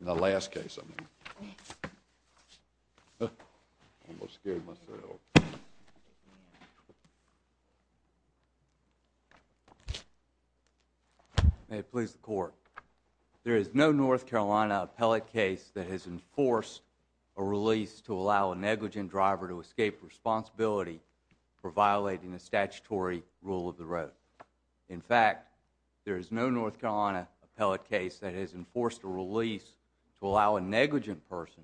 May it please the Court. There is no North Carolina appellate case that has enforced a release to allow a negligent driver to escape responsibility for violating a statutory rule of the road. In fact, there is no North Carolina appellate case that has enforced a release to allow a negligent person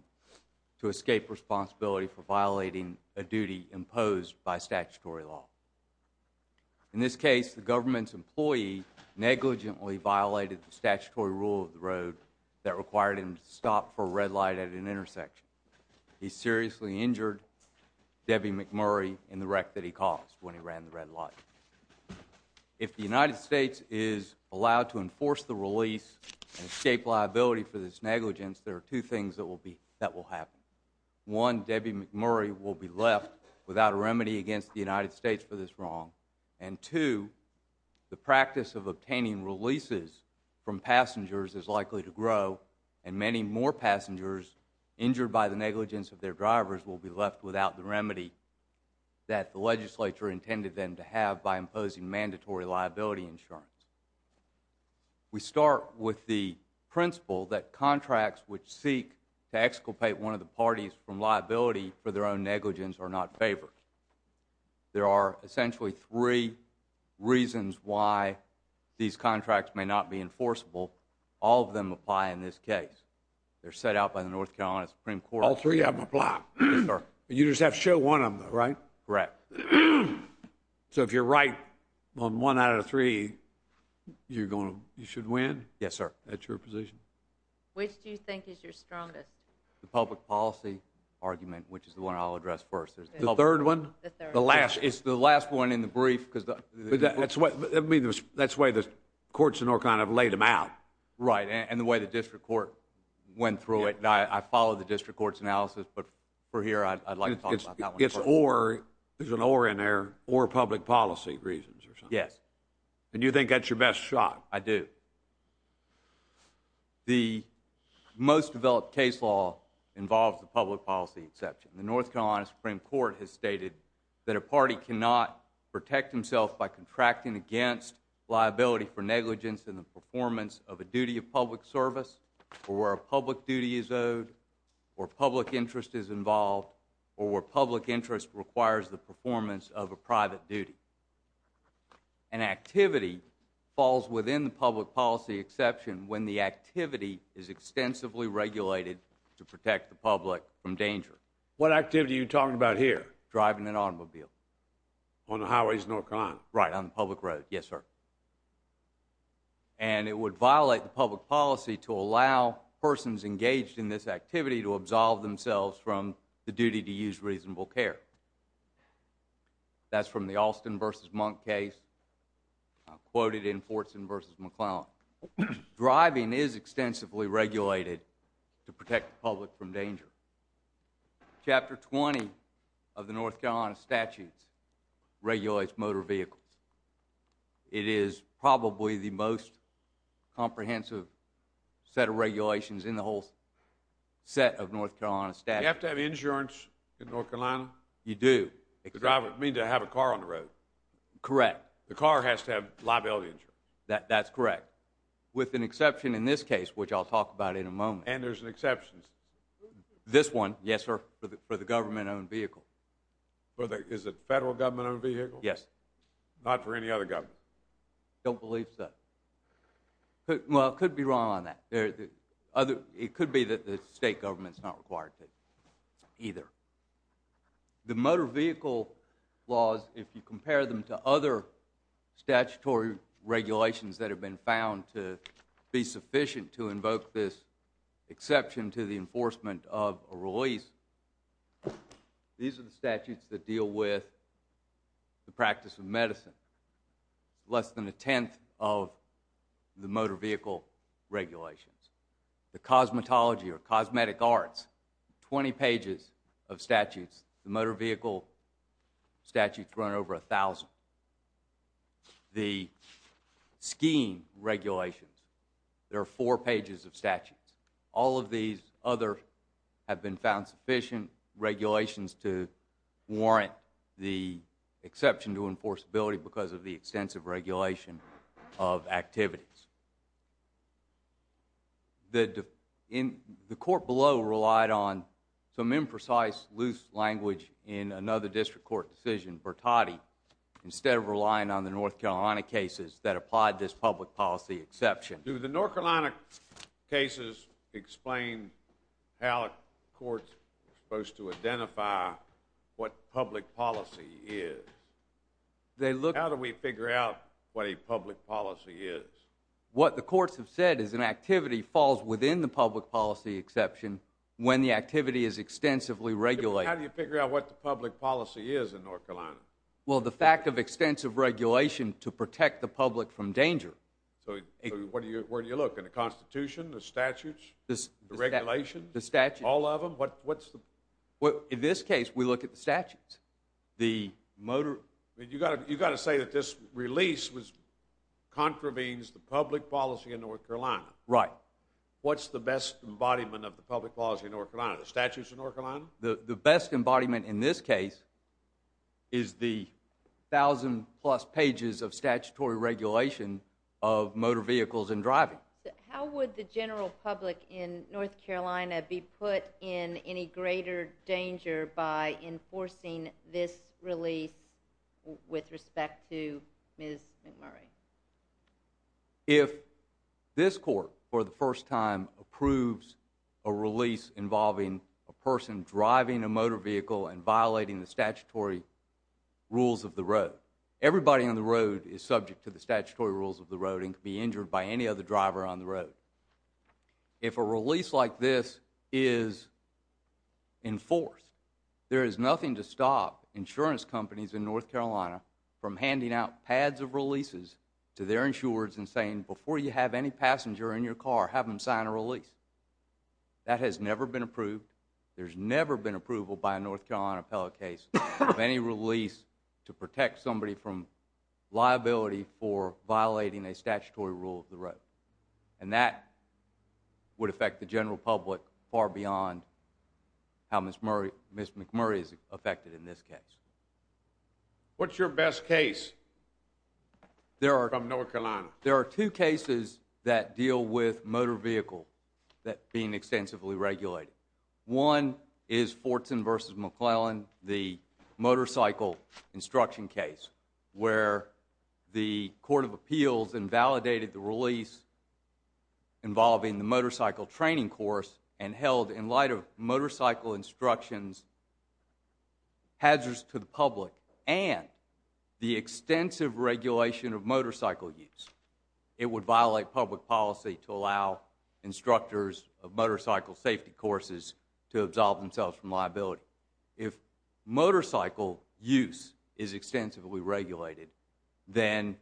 to escape responsibility for violating a duty imposed by statutory law. In this case, the government's employee negligently violated the statutory rule of the road that required him to stop for a red light at an intersection. He seriously injured Debbie McMurray in the wreck that he caused when he ran the red light. If the United States is allowed to enforce the release and escape liability for this negligence, there are two things that will happen. One, Debbie McMurray will be left without a remedy against the United States for this wrong. And two, the practice of obtaining releases from passengers is likely to grow, and many more passengers injured by the negligence of their drivers will be left without the remedy that the legislature intended them to have by imposing mandatory liability insurance. We start with the principle that contracts which seek to exculpate one of the parties from liability for their own negligence are not favored. There are essentially three reasons why these contracts may not be enforceable. All of them apply in this case. They're set out by the North Carolina Supreme Court. All three of them apply? Yes, sir. You just have to show one of them, right? Correct. So if you're right on one out of three, you're going to, you should win? Yes, sir. That's your position? Which do you think is your strongest? The public policy argument, which is the one I'll address first. The third one? The third. The last. It's the last one in the brief because the- That's what, I mean, that's why the courts in North Carolina have laid them out. Right. And the way the district court went through it, and I follow the district court's analysis, but for here, I'd like to talk about that one first. It's or, there's an or in there, or public policy reasons or something. Yes. And you think that's your best shot? I do. The most developed case law involves the public policy exception. The North Carolina Supreme Court has stated that a party cannot protect himself by contracting against liability for negligence in the performance of a duty of public service, or where a public duty is owed, or public interest is involved, or where public interest requires the performance of a private duty. An activity falls within the public policy exception when the activity is extensively regulated to protect the public from danger. What activity are you talking about here? Driving an automobile. On the highways in North Carolina? Right. On the public road. Yes, sir. And it would violate the public policy to allow persons engaged in this activity to absolve themselves from the duty to use reasonable care. That's from the Alston v. Monk case, quoted in Fortson v. McClellan. Driving is extensively regulated to protect the public from danger. Chapter 20 of the North Carolina statutes regulates motor vehicles. It is probably the most comprehensive set of regulations in the whole set of North Carolina statutes. Do you have to have insurance in North Carolina? You do. To drive, you mean to have a car on the road? Correct. The car has to have liability insurance? That's correct. With an exception in this case, which I'll talk about in a moment. And there's an exception? This one, yes, sir. For the government-owned vehicle. Is it federal government-owned vehicle? Yes. Not for any other government? I don't believe so. Well, I could be wrong on that. It could be that the state government's not required to either. The motor vehicle laws, if you compare them to other statutory regulations that have been found to be sufficient to invoke this exception to the enforcement of a release, these are the statutes that deal with the practice of medicine. Less than a tenth of the motor vehicle regulations. The cosmetology or cosmetic arts, 20 pages of statutes. The motor vehicle statutes run over a thousand. The skiing regulations, there are four pages of statutes. All of these other have been found sufficient regulations to warrant the exception to enforceability because of the extensive regulation of activities. The court below relied on some imprecise, loose language in another district court decision, Bertotti, instead of relying on the North Carolina cases that applied this public policy exception. Do the North Carolina cases explain how a court is supposed to identify what public policy is? How do we figure out what a public policy is? What the courts have said is an activity falls within the public policy exception when the activity is extensively regulated. How do you figure out what the public policy is in North Carolina? Well, the fact of extensive regulation to protect the public from danger. So, where do you look? In the Constitution, the statutes, the regulations? The statutes. What's the... In this case, we look at the statutes. The motor... I mean, you've got to say that this release contravenes the public policy in North Carolina. Right. What's the best embodiment of the public policy in North Carolina, the statutes in North Carolina? The best embodiment in this case is the thousand plus pages of statutory regulation of motor vehicles and driving. How would the general public in North Carolina be put in any greater danger by enforcing this release with respect to Ms. McMurray? If this court, for the first time, approves a release involving a person driving a motor vehicle and violating the statutory rules of the road, everybody on the road is subject to the statutory rules of the road and can be injured by any other driver on the road. If a release like this is enforced, there is nothing to stop insurance companies in North Carolina from handing out pads of releases to their insurers and saying, before you have any passenger in your car, have them sign a release. That has never been approved. There's never been approval by a North Carolina appellate case of any release to protect somebody from liability for violating a statutory rule of the road. And that would affect the general public far beyond how Ms. McMurray is affected in this case. What's your best case from North Carolina? There are two cases that deal with motor vehicles that are being extensively regulated. One is Fortson v. McClellan, the motorcycle instruction case, where the Court of Appeals invalidated the release involving the motorcycle training course and held, in light of motorcycle instructions, hazards to the public and the extensive regulation of motorcycle use. It would violate public policy to allow instructors of motorcycle safety courses to absolve themselves from liability. If motorcycle use is extensively regulated, then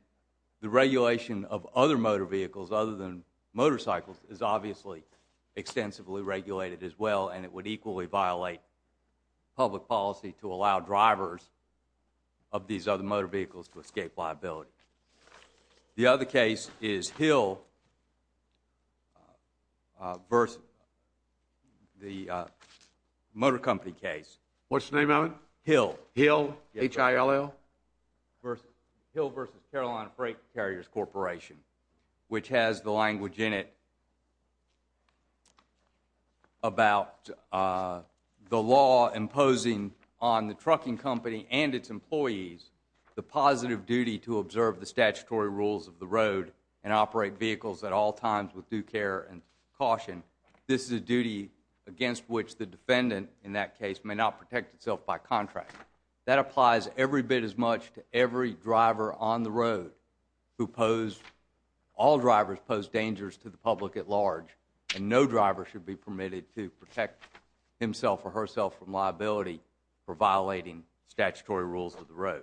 the regulation of other motor vehicles other than motorcycles is obviously extensively regulated as well, and it would equally violate public policy to allow drivers of these other motor vehicles to escape liability. The other case is Hill v. the motor company case. What's the name of it? Hill. Hill? H-I-L-L? Hill v. Carolina Brake Carriers Corporation, which has the language in it about the law imposing on the trucking company and its employees the positive duty to observe the statutory rules of the road and operate vehicles at all times with due care and caution. This is a duty against which the defendant, in that case, may not protect itself by contract. That applies every bit as much to every driver on the road. All drivers pose dangers to the public at large, and no driver should be permitted to for violating statutory rules of the road.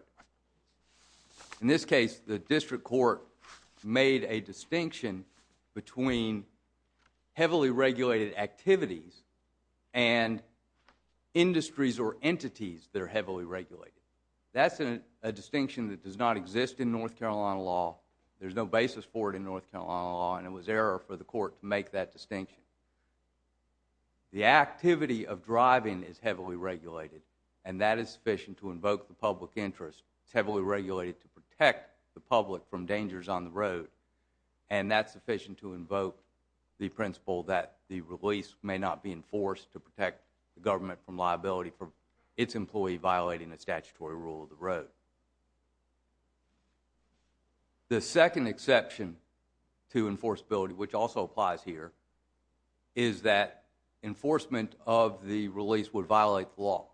In this case, the district court made a distinction between heavily regulated activities and industries or entities that are heavily regulated. That's a distinction that does not exist in North Carolina law. There's no basis for it in North Carolina law, and it was error for the court to make that distinction. The activity of driving is heavily regulated, and that is sufficient to invoke the public interest. It's heavily regulated to protect the public from dangers on the road, and that's sufficient to invoke the principle that the release may not be enforced to protect the government from liability for its employee violating the statutory rule of the road. The second exception to enforceability, which also applies here, is that enforcement of the release would violate the law.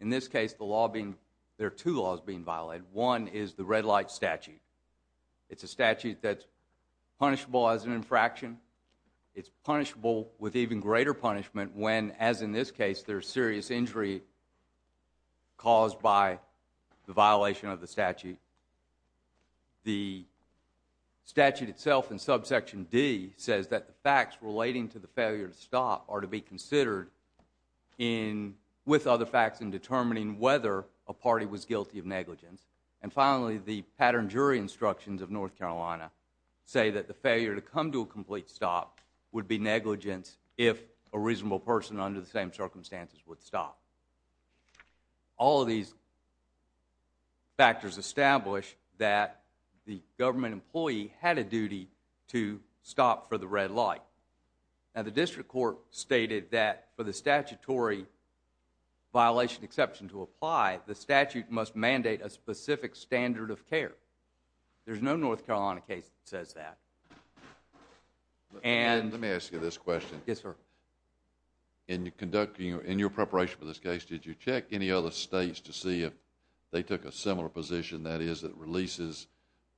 In this case, there are two laws being violated. One is the red light statute. It's a statute that's punishable as an infraction. It's punishable with even greater punishment when, as in this case, there's serious injury caused by the violation of the statute. The statute itself in subsection D says that the facts relating to the failure to stop are to be considered with other facts in determining whether a party was guilty of negligence. And finally, the pattern jury instructions of North Carolina say that the failure to come to a complete stop would be negligence if a reasonable person under the same circumstances would stop. All of these factors establish that the government employee had a duty to stop for the red light. Now, the district court stated that for the statutory violation exception to apply, the statute must mandate a specific standard of care. There's no North Carolina case that says that. And... Let me ask you this question. Yes, sir. In your preparation for this case, did you check any other states to see if they took a similar position, that is, that releases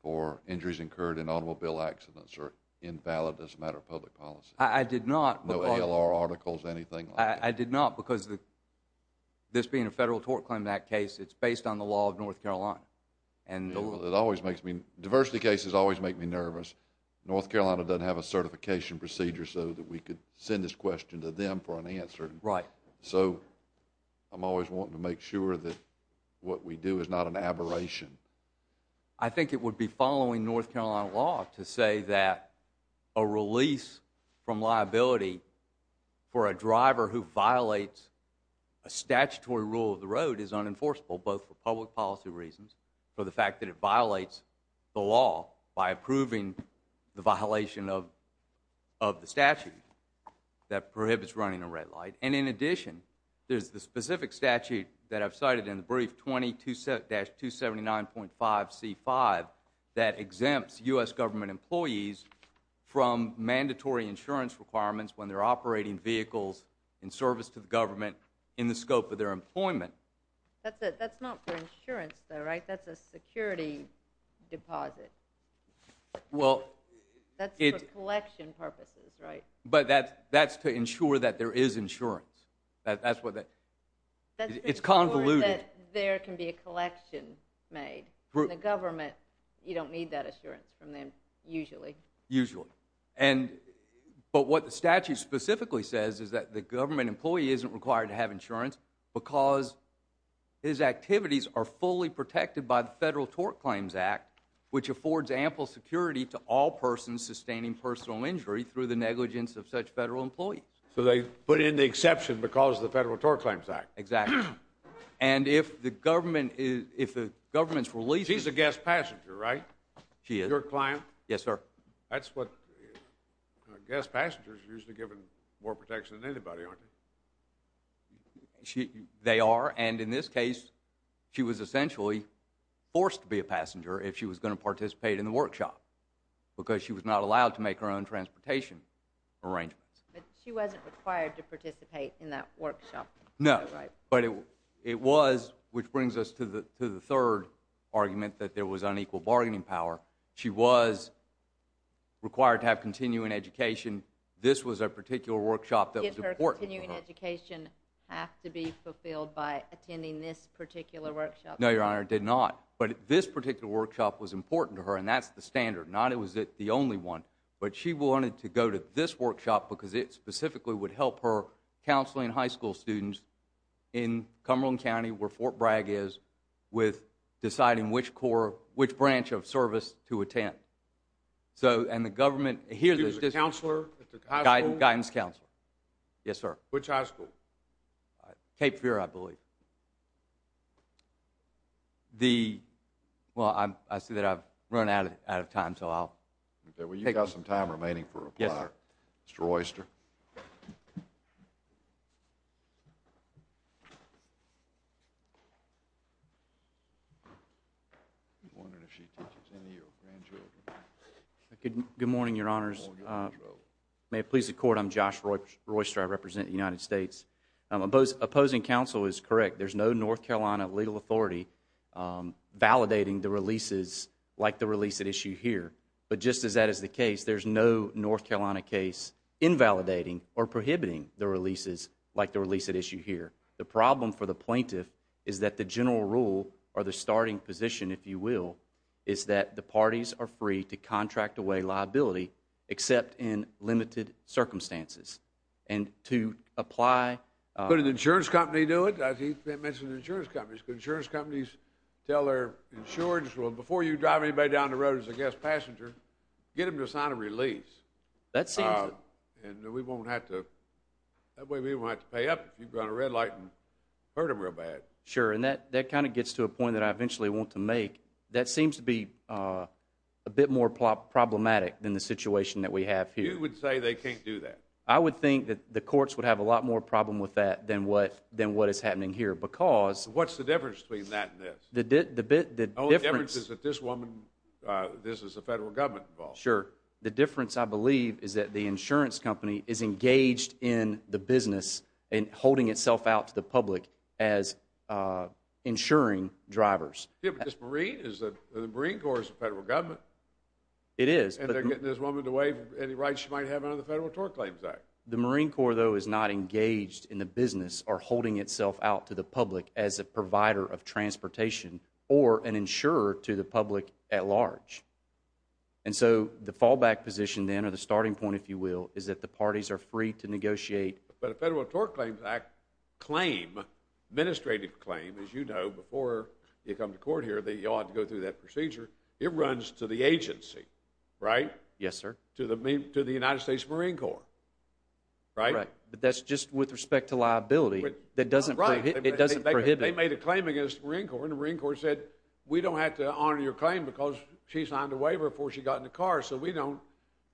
for injuries incurred in automobile accidents are invalid as a matter of public policy? I did not. No ALR articles, anything like that? I did not, because this being a federal tort claim, that case, it's based on the law of North Carolina. Well, it always makes me, diversity cases always make me nervous. North Carolina doesn't have a certification procedure so that we could send this question to them for an answer. So I'm always wanting to make sure that what we do is not an aberration. I think it would be following North Carolina law to say that a release from liability for a driver who violates a statutory rule of the road is unenforceable, both for public policy reasons, for the fact that it violates the law by approving the violation of the statute that prohibits running a red light. And in addition, there's the specific statute that I've cited in the brief, 22-279.5C5, that exempts U.S. government employees from mandatory insurance requirements when they're operating vehicles in service to the government in the scope of their employment. That's it. But that's for insurance though, right? That's a security deposit. That's for collection purposes, right? But that's to ensure that there is insurance. It's convoluted. That's to ensure that there can be a collection made, and the government, you don't need that assurance from them, usually. Usually. But what the statute specifically says is that the government employee isn't required to have insurance because his activities are fully protected by the Federal Tort Claims Act, which affords ample security to all persons sustaining personal injury through the negligence of such federal employees. So they put in the exception because of the Federal Tort Claims Act. Exactly. And if the government's releasing... She's a guest passenger, right? She is. Your client? Yes, sir. That's what... Guest passengers are usually given more protection than anybody, aren't they? They are, and in this case, she was essentially forced to be a passenger if she was going to participate in the workshop because she was not allowed to make her own transportation arrangements. But she wasn't required to participate in that workshop. No. Right. But it was, which brings us to the third argument, that there was unequal bargaining power. She was required to have continuing education. This was a particular workshop that was important for her. Did her continuing education have to be fulfilled by attending this particular workshop? No, Your Honor, it did not. But this particular workshop was important to her, and that's the standard. Not it was the only one. But she wanted to go to this workshop because it specifically would help her counseling high school students in Cumberland County, where Fort Bragg is, with deciding which branch of service to attend. So, and the government... She was a counselor at the high school? Guidance counselor. Yes, sir. Which high school? Cape Fear, I believe. The... Well, I see that I've run out of time, so I'll... Okay. Well, you've got some time remaining for reply, Mr. Oyster. I'm wondering if she teaches any of your grandchildren. Good morning, Your Honors. Good morning, Mr. Oyster. May it please the Court, I'm Josh Royster, I represent the United States. Opposing counsel is correct. There's no North Carolina legal authority validating the releases like the release at issue here. But just as that is the case, there's no North Carolina case invalidating or prohibiting the releases like the release at issue here. The problem for the plaintiff is that the general rule, or the starting position, if you will, is that the parties are free to contract away liability, except in limited circumstances. And to apply... Could an insurance company do it? He mentioned insurance companies. I'm wondering, as a guest passenger, get them to sign a release. That seems... And we won't have to... That way, we won't have to pay up if you've gone to red light and hurt them real bad. Sure, and that kind of gets to a point that I eventually want to make. That seems to be a bit more problematic than the situation that we have here. You would say they can't do that. I would think that the courts would have a lot more problem with that than what is happening here because... What's the difference between that and this? The difference... The difference is that this woman, this is the federal government involved. Sure. The difference, I believe, is that the insurance company is engaged in the business and holding itself out to the public as insuring drivers. Yeah, but this Marine, the Marine Corps is the federal government. It is, but... And they're getting this woman to waive any rights she might have under the Federal Tort Claims Act. The Marine Corps, though, is not engaged in the business or holding itself out to the public at large. And so the fallback position then, or the starting point, if you will, is that the parties are free to negotiate. But a Federal Tort Claims Act claim, administrative claim, as you know, before you come to court here that you ought to go through that procedure, it runs to the agency, right? Yes, sir. To the United States Marine Corps, right? Right. But that's just with respect to liability. That doesn't prohibit... Right. They made a claim against the Marine Corps, and the Marine Corps said, we don't have to claim because she signed a waiver before she got in the car, so we don't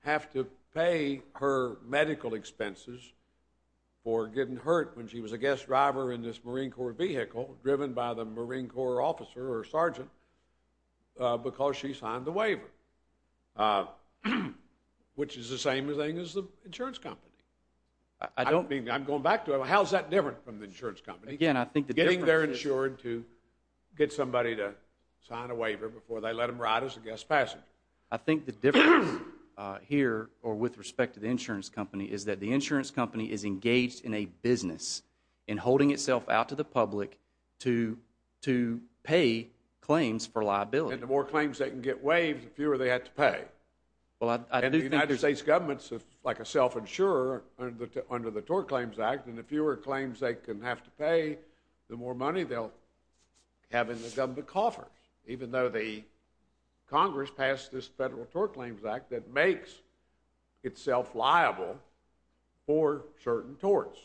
have to pay her medical expenses for getting hurt when she was a guest driver in this Marine Corps vehicle driven by the Marine Corps officer or sergeant because she signed the waiver, which is the same thing as the insurance company. I don't mean... I'm going back to it. How is that different from the insurance company? Again, I think the difference is... So they let them ride as a guest passenger. I think the difference here, or with respect to the insurance company, is that the insurance company is engaged in a business in holding itself out to the public to pay claims for liability. And the more claims they can get waived, the fewer they have to pay. Well, I do think... And the United States government's like a self-insurer under the Tort Claims Act, and the fewer claims they can have to pay, the more money they'll have in the government coffers, even though the Congress passed this Federal Tort Claims Act that makes itself liable for certain torts,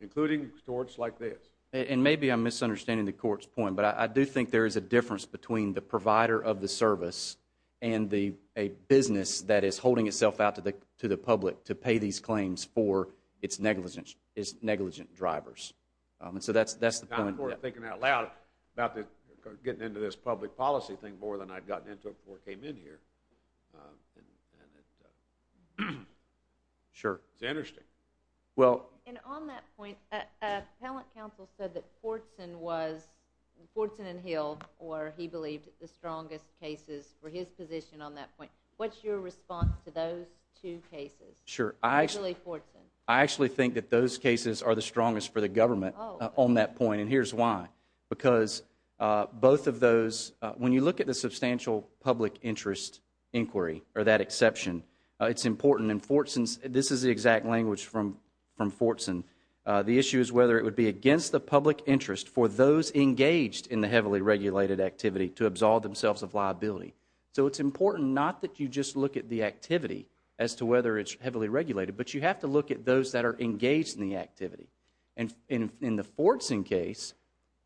including torts like this. And maybe I'm misunderstanding the Court's point, but I do think there is a difference between the provider of the service and a business that is holding itself out to the public to pay these claims for its negligent drivers. So that's the point. I've been thinking out loud about getting into this public policy thing more than I'd gotten into it before I came in here. Sure. It's interesting. Well... And on that point, Appellant Counsel said that Portson and Hill were, he believed, the strongest cases for his position on that point. What's your response to those two cases, particularly Portson? I actually think that those cases are the strongest for the government on that point. And here's why. Because both of those, when you look at the substantial public interest inquiry, or that exception, it's important, and this is the exact language from Portson, the issue is whether it would be against the public interest for those engaged in the heavily regulated activity to absolve themselves of liability. So it's important not that you just look at the activity as to whether it's heavily regulated, In the Portson case,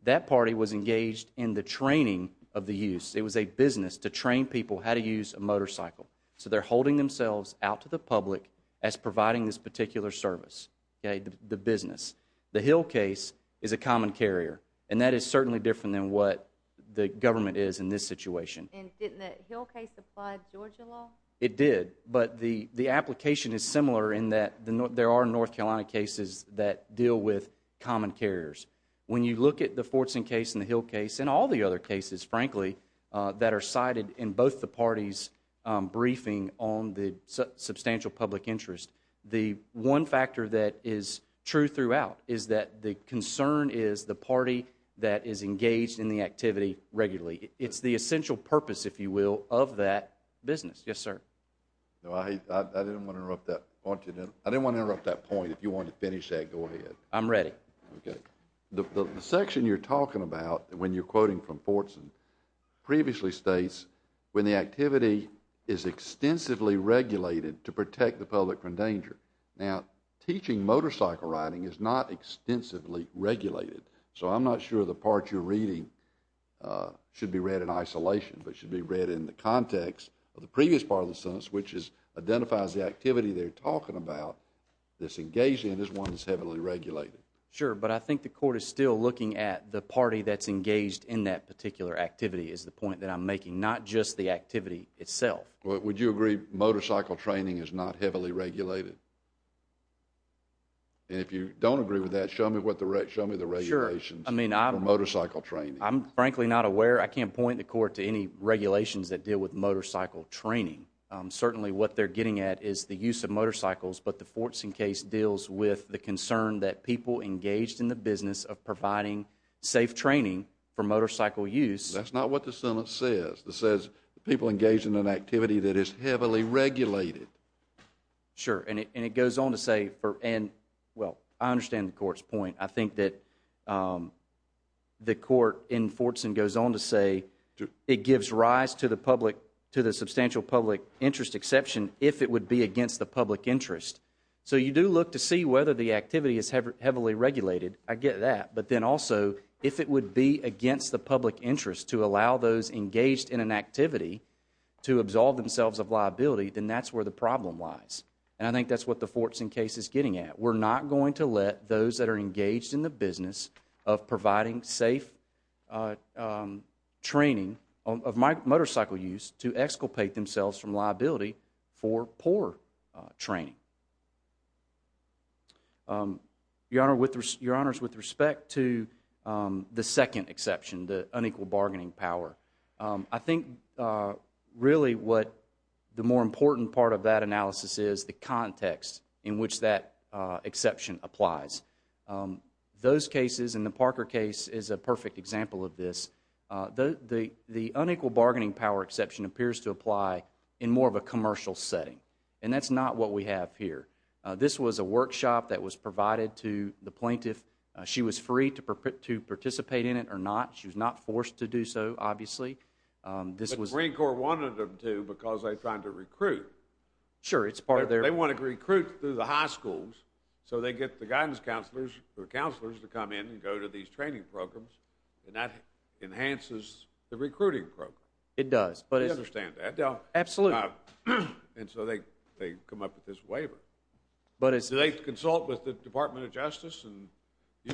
that party was engaged in the training of the use. It was a business to train people how to use a motorcycle. So they're holding themselves out to the public as providing this particular service, the business. The Hill case is a common carrier. And that is certainly different than what the government is in this situation. And didn't the Hill case apply to Georgia law? It did. But the application is similar in that there are North Carolina cases that deal with common carriers. When you look at the Portson case and the Hill case, and all the other cases, frankly, that are cited in both the parties' briefing on the substantial public interest, the one factor that is true throughout is that the concern is the party that is engaged in the activity regularly. It's the essential purpose, if you will, of that business. Yes, sir. No, I didn't want to interrupt that point, if you wanted to finish that, go ahead. I'm ready. Okay. The section you're talking about, when you're quoting from Portson, previously states, when the activity is extensively regulated to protect the public from danger. Now, teaching motorcycle riding is not extensively regulated. So I'm not sure the part you're reading should be read in isolation, but should be read in the context of the previous part of the sentence, which identifies the activity they're talking about that's engaged in as one that's heavily regulated. Sure, but I think the court is still looking at the party that's engaged in that particular activity is the point that I'm making, not just the activity itself. Would you agree motorcycle training is not heavily regulated? And if you don't agree with that, show me the regulations for motorcycle training. I'm frankly not aware. I can't point the court to any regulations that deal with motorcycle training. Certainly what they're getting at is the use of motorcycles, but the Portson case deals with the concern that people engaged in the business of providing safe training for motorcycle use. That's not what the sentence says. It says people engaged in an activity that is heavily regulated. Sure, and it goes on to say, and well, I understand the court's point. I think that the court in Portson goes on to say it gives rise to the substantial public interest exception if it would be against the public interest. So you do look to see whether the activity is heavily regulated. I get that. But then also, if it would be against the public interest to allow those engaged in an activity to absolve themselves of liability, then that's where the problem lies. And I think that's what the Portson case is getting at. We're not going to let those that are engaged in the business of providing safe training of motorcycle use to exculpate themselves from liability for poor training. Your Honors, with respect to the second exception, the unequal bargaining power, I think really what the more important part of that analysis is the context in which that exception applies. Those cases, and the Parker case is a perfect example of this, the unequal bargaining power exception appears to apply in more of a commercial setting. And that's not what we have here. This was a workshop that was provided to the plaintiff. She was free to participate in it or not. She was not forced to do so, obviously. But the Marine Corps wanted them to because they're trying to recruit. Sure, it's part of their... They want to recruit through the high schools, so they get the guidance counselors to come in and go to these training programs, and that enhances the recruiting program. It does. I understand that. Absolutely. And so they come up with this waiver. But it's... Do they consult with the Department of Justice and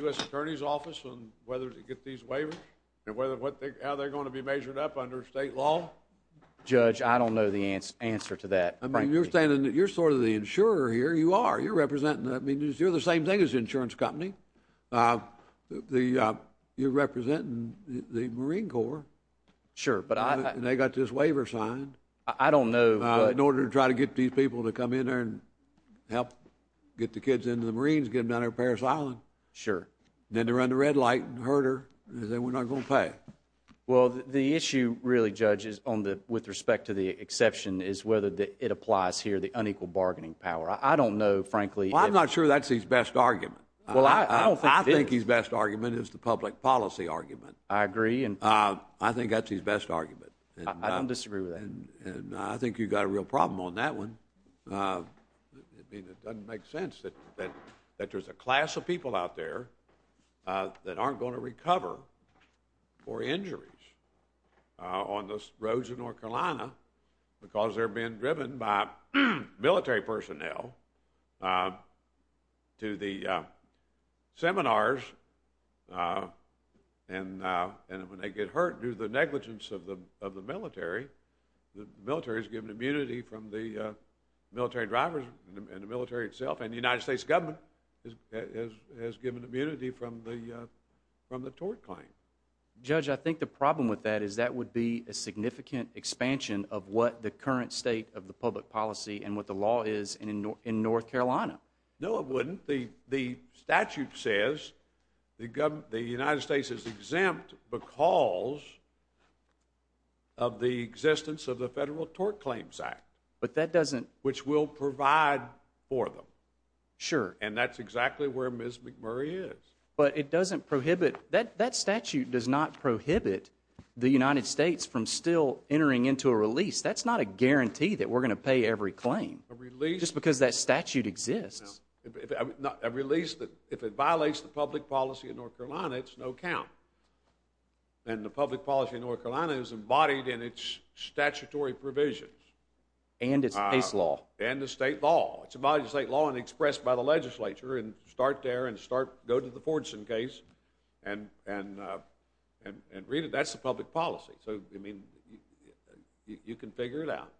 U.S. Attorney's Office on whether to get these waivers, and how they're going to be measured up under state law? Judge, I don't know the answer to that, frankly. I mean, you're saying that you're sort of the insurer here. You are. You're representing... I mean, you're the same thing as the insurance company. You're representing the Marine Corps. Sure, but I... And they got this waiver signed. I don't know, but... In order to try to get these people to come in there and help get the kids into the Marines, get them down to Parris Island. Sure. Then they run the red light and hurt her, and then we're not going to pay. Well, the issue, really, Judge, is on the... With respect to the exception, is whether it applies here, the unequal bargaining power. I don't know, frankly, if... Well, I'm not sure that's his best argument. Well, I don't think it is. I think his best argument is the public policy argument. I agree, and... I think that's his best argument. I don't disagree with that. And I think you've got a real problem on that one. I mean, it doesn't make sense that there's a class of people out there that aren't going to recover for injuries on the roads of North Carolina because they're being driven by military personnel to the seminars, and when they get hurt due to the negligence of the military, the military is given immunity from the military drivers and the military itself, and the United States government has given immunity from the tort claim. Judge, I think the problem with that is that would be a significant expansion of what the current state of the public policy and what the law is in North Carolina. No, it wouldn't. The statute says the United States is exempt because of the existence of the Federal Tort Claims Act, which will provide for them. Sure. And that's exactly where Ms. McMurray is. But it doesn't prohibit... That statute does not prohibit the United States from still entering into a release. That's not a guarantee that we're going to pay every claim, just because that statute exists. No. A release that... If it violates the public policy in North Carolina, it's no count. And the public policy in North Carolina is embodied in its statutory provisions. And its case law. And the state law. It's embodied in the state law and expressed by the legislature, and start there and go to the Fordson case and read it. That's the public policy. So, I mean, you can figure it out.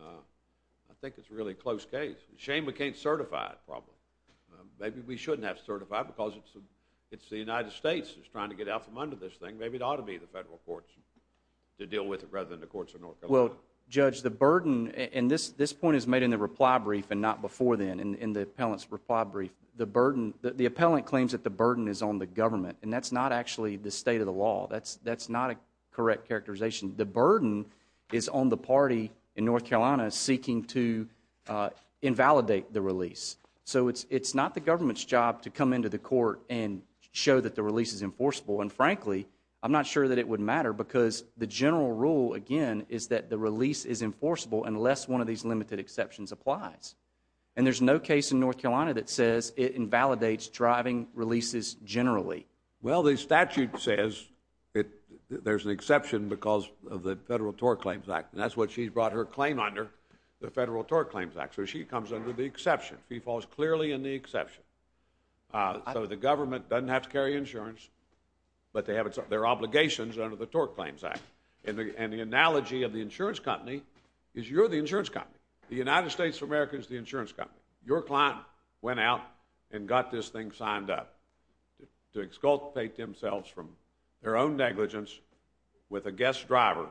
I think it's really a close case. It's a shame we can't certify it, probably. Maybe we shouldn't have to certify it, because it's the United States that's trying to get out from under this thing. Maybe it ought to be the federal courts to deal with it, rather than the courts of North Carolina. Well, Judge, the burden... And this point is made in the reply brief, and not before then, in the appellant's reply brief. The burden... The appellant claims that the burden is on the government. And that's not actually the state of the law. That's not a correct characterization. The burden is on the party in North Carolina seeking to invalidate the release. So it's not the government's job to come into the court and show that the release is enforceable. And frankly, I'm not sure that it would matter, because the general rule, again, is that the release is enforceable unless one of these limited exceptions applies. And there's no case in North Carolina that says it invalidates driving releases generally. Well, the statute says there's an exception because of the Federal Tort Claims Act. And that's what she brought her claim under, the Federal Tort Claims Act. So she comes under the exception. She falls clearly in the exception. So the government doesn't have to carry insurance, but they have their obligations under the Tort Claims Act. And the analogy of the insurance company is you're the insurance company. The United States of America is the insurance company. Your client went out and got this thing signed up to exculpate themselves from their own negligence with a guest driver,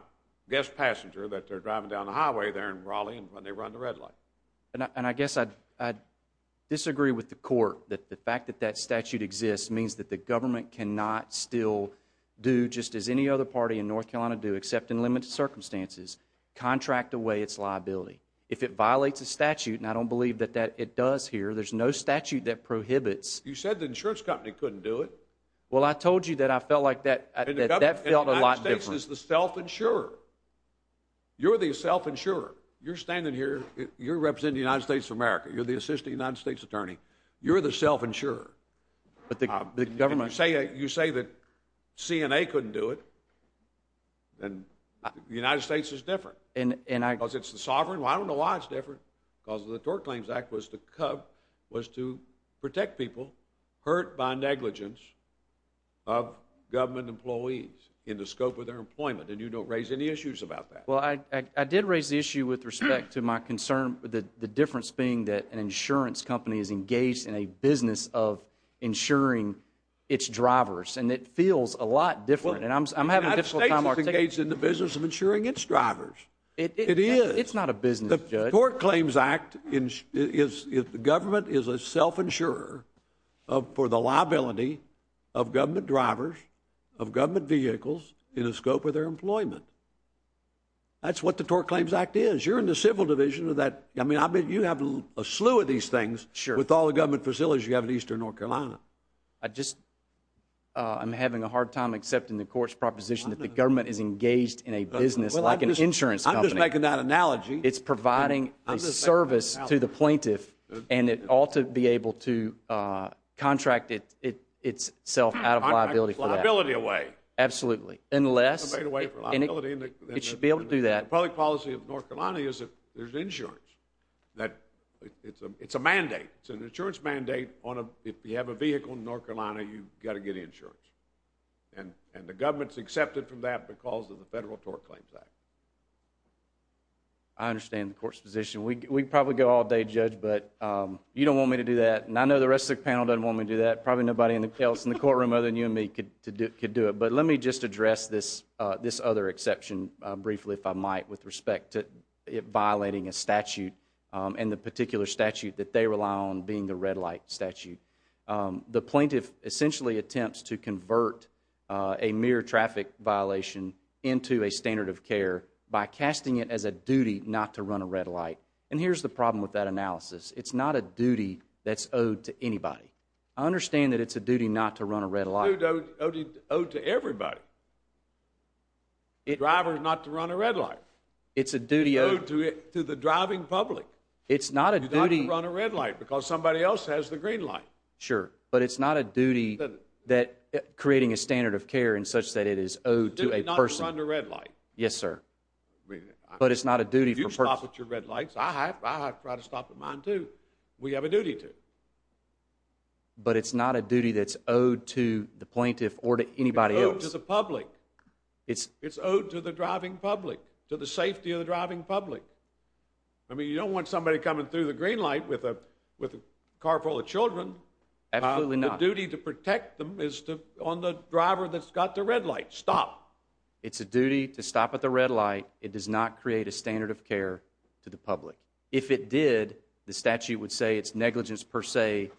guest passenger that they're driving down the highway there in Raleigh when they run the red light. And I guess I'd disagree with the court that the fact that that statute exists means that the government cannot still do just as any other party in North Carolina do, except in limited circumstances, contract away its liability. If it violates a statute, and I don't believe that it does here, there's no statute that prohibits. You said the insurance company couldn't do it. Well, I told you that I felt like that felt a lot different. And the United States is the self-insurer. You're the self-insurer. You're standing here. You're representing the United States of America. You're the assistant United States attorney. You're the self-insurer. But the government... You say that CNA couldn't do it. And the United States is different. Because it's the sovereign? Well, I don't know why it's different. Because the Tort Claims Act was to protect people hurt by negligence of government employees in the scope of their employment, and you don't raise any issues about that. Well, I did raise the issue with respect to my concern, the difference being that an insurance company is engaged in a business of insuring its drivers. And it feels a lot different. And I'm having a difficult time articulating... The United States is engaged in the business of insuring its drivers. It is. It's not a business, Judge. The Tort Claims Act is... The government is a self-insurer for the liability of government drivers, of government vehicles, in the scope of their employment. That's what the Tort Claims Act is. You're in the civil division of that. I mean, I bet you have a slew of these things with all the government facilities you have in eastern North Carolina. I just... I'm having a hard time accepting the court's proposition that the government is engaged in a business like an insurance company. I'm just making that analogy. It's providing a service to the plaintiff, and it ought to be able to contract itself out of liability for that. I'm taking liability away. Absolutely. Unless... I'm taking liability away. It should be able to do that. The public policy of North Carolina is that there's insurance. It's a mandate. It's an insurance mandate on a... If you have a vehicle in North Carolina, you've got to get insurance. And the government's accepted from that because of the Federal Tort Claims Act. I understand the court's position. We could probably go all day, Judge, but you don't want me to do that, and I know the rest of the panel doesn't want me to do that. Probably nobody else in the courtroom other than you and me could do it. But let me just address this other exception briefly, if I might, with respect to it violating a statute, and the particular statute that they rely on being the red light statute. The plaintiff essentially attempts to convert a mere traffic violation into a standard of care by casting it as a duty not to run a red light. And here's the problem with that analysis. It's not a duty that's owed to anybody. I understand that it's a duty not to run a red light. It's a duty owed to everybody. A driver's not to run a red light. It's a duty owed... To the driving public. It's not a duty... You don't have to run a red light because somebody else has the green light. Sure, but it's not a duty that creating a standard of care in such that it is owed to a person. It's a duty not to run a red light. Yes, sir. But it's not a duty for... If you stop at your red lights, I have to try to stop at mine, too. We have a duty to. But it's not a duty that's owed to the plaintiff or to anybody else. It's owed to the public. It's owed to the driving public, to the safety of the driving public. I mean, you don't want somebody coming through the green light with a car full of children. Absolutely not. The duty to protect them is on the driver that's got the red light. Stop. It's a duty to stop at the red light. It does not create a standard of care to the public. If it did, the statute would say it's negligence per se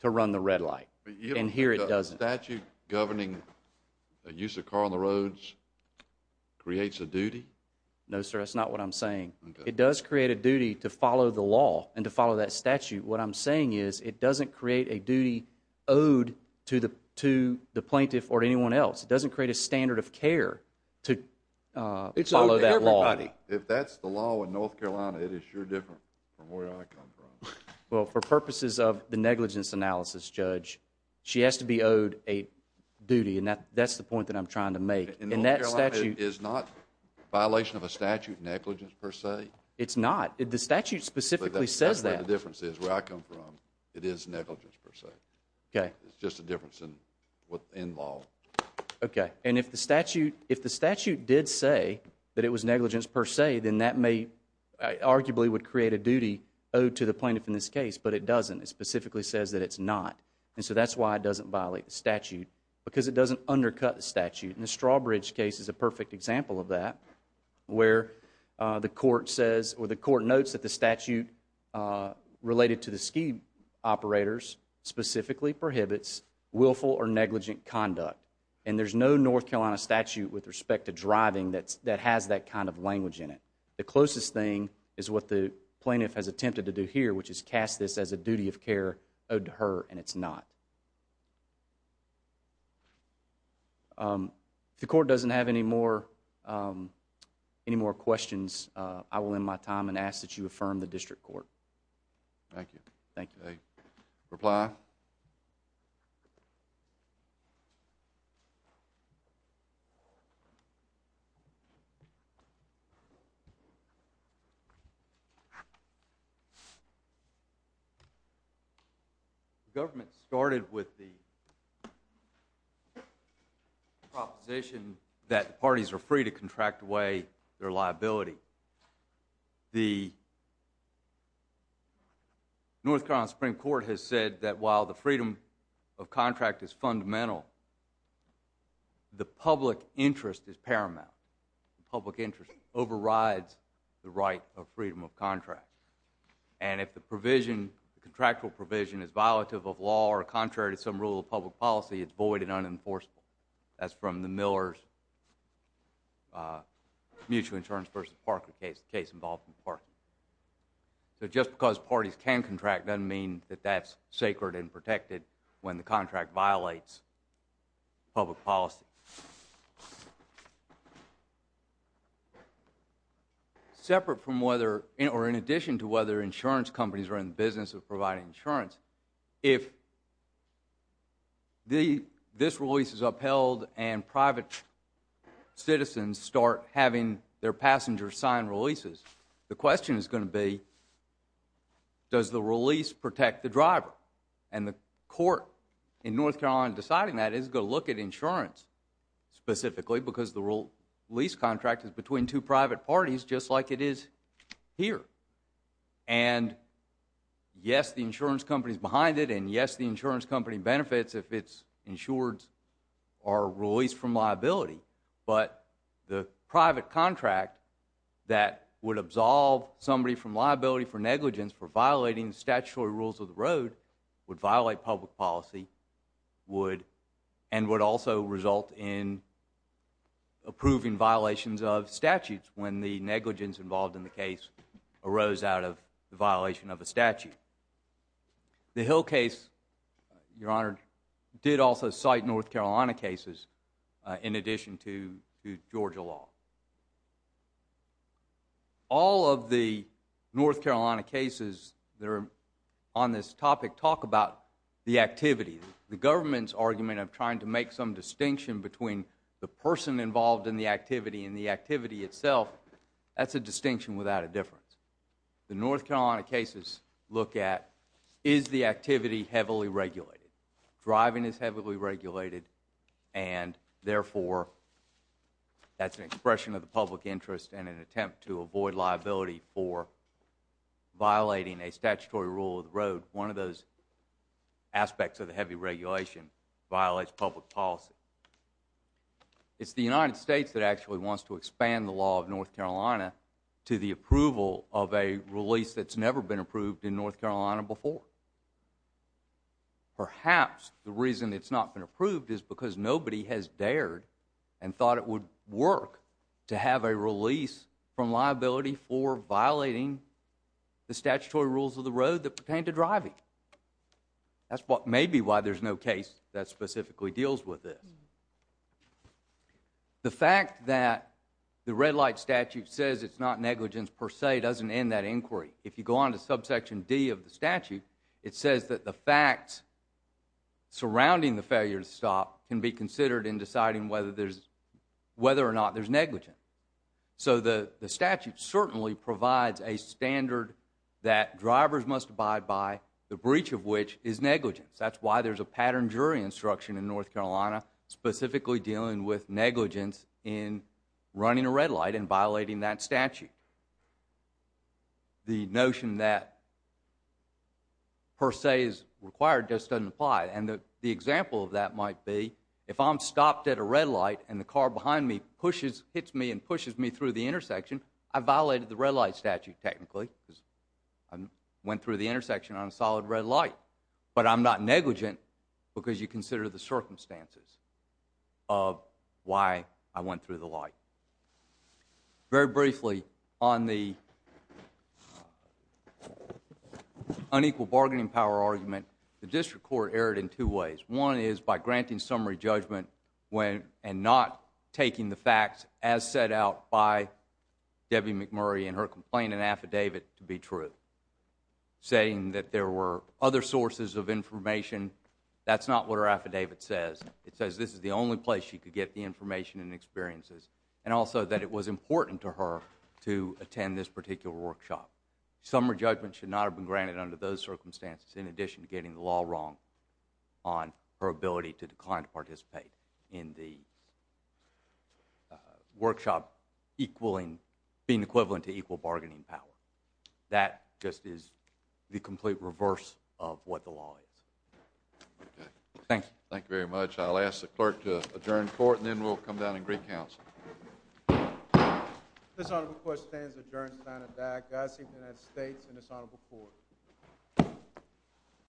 to run the red light. And here it doesn't. So that statute governing the use of car on the roads creates a duty? No, sir. That's not what I'm saying. It does create a duty to follow the law and to follow that statute. What I'm saying is it doesn't create a duty owed to the plaintiff or anyone else. It doesn't create a standard of care to follow that law. If that's the law in North Carolina, it is sure different from where I come from. Well, for purposes of the negligence analysis, Judge, she has to be owed a duty and that's the point that I'm trying to make. In North Carolina, it is not a violation of a statute negligence per se? It's not. The statute specifically says that. That's where the difference is. Where I come from, it is negligence per se. It's just a difference in law. And if the statute did say that it was negligence per se, then that arguably would create a duty owed to the plaintiff in this case. But it doesn't. It specifically says that it's not. And so that's why it doesn't violate the statute. Because it doesn't undercut the statute. And the Strawbridge case is a perfect example of that where the court says or the court notes that the statute related to the ski operators specifically prohibits willful or negligent conduct. And there's no North Carolina statute with respect to driving that has that kind of language in it. The closest thing is what the plaintiff has attempted to do here, which is cast this as a duty of care owed to her. And it's not. If the court doesn't have any more questions, I will end my time and ask that you affirm the district court. Thank you. Thank you. A reply? The government started with the proposition that the parties are free to contract away their liability. The North Carolina Supreme Court has said that while the freedom of contract is fundamental, the public interest is paramount. Public interest overrides the right of freedom of contract. And if the contractual provision is violative of law or contrary to some rule of public policy, it's void and unenforceable. That's from the Miller's Mutual Insurance v. Parker case, the case involved with Parker. So just because parties can contract doesn't mean that that's sacred and protected when the contract violates public policy. Separate from whether, or in addition to whether insurance companies are in the business of and private citizens start having their passengers sign releases. The question is going to be, does the release protect the driver? And the court in North Carolina deciding that is going to look at insurance specifically because the lease contract is between two private parties just like it is here. And yes, the insurance company is behind it, and yes, the insurance company benefits if it's insured or released from liability. But the private contract that would absolve somebody from liability for negligence for violating statutory rules of the road would violate public policy and would also result in approving violations of statutes when the negligence involved in the case arose out of the violation of a statute. The Hill case, Your Honor, did also cite North Carolina cases in addition to Georgia law. All of the North Carolina cases that are on this topic talk about the activity. The government's argument of trying to make some distinction between the person involved in the activity and the activity itself, that's a distinction without a difference. The North Carolina cases look at, is the activity heavily regulated? Driving is heavily regulated, and therefore that's an expression of the public interest and an attempt to avoid liability for violating a statutory rule of the road. One of those aspects of the heavy regulation violates public policy. It's the United States that actually wants to expand the law of North Carolina to the extent of a release that's never been approved in North Carolina before. Perhaps the reason it's not been approved is because nobody has dared and thought it would work to have a release from liability for violating the statutory rules of the road that pertain to driving. That's maybe why there's no case that specifically deals with this. The fact that the red light statute says it's not negligence per se doesn't end that inquiry. If you go on to subsection D of the statute, it says that the facts surrounding the failure to stop can be considered in deciding whether or not there's negligence. So the statute certainly provides a standard that drivers must abide by, the breach of which is negligence. That's why there's a pattern jury instruction in North Carolina specifically dealing with negligence in running a red light and violating that statute. The notion that per se is required just doesn't apply. The example of that might be if I'm stopped at a red light and the car behind me hits me and pushes me through the intersection, I violated the red light statute, technically. I went through the intersection on a solid red light, but I'm not negligent because you consider the circumstances of why I went through the light. Very briefly, on the unequal bargaining power argument, the district court erred in two ways. One is by granting summary judgment and not taking the facts as set out by Debbie McMurray and her complaint and affidavit to be true, saying that there were other sources of information. That's not what her affidavit says. It says this is the only place she could get the information and experiences, and also that it was important to her to attend this particular workshop. Summary judgment should not have been granted under those circumstances in addition to getting the law wrong on her ability to decline to participate in the workshop being equivalent to equal bargaining power. That just is the complete reverse of what the law is. Thank you. Thank you very much. I'll ask the clerk to adjourn court, and then we'll come down and agree counsel. This honorable court stands adjourned, signed and died.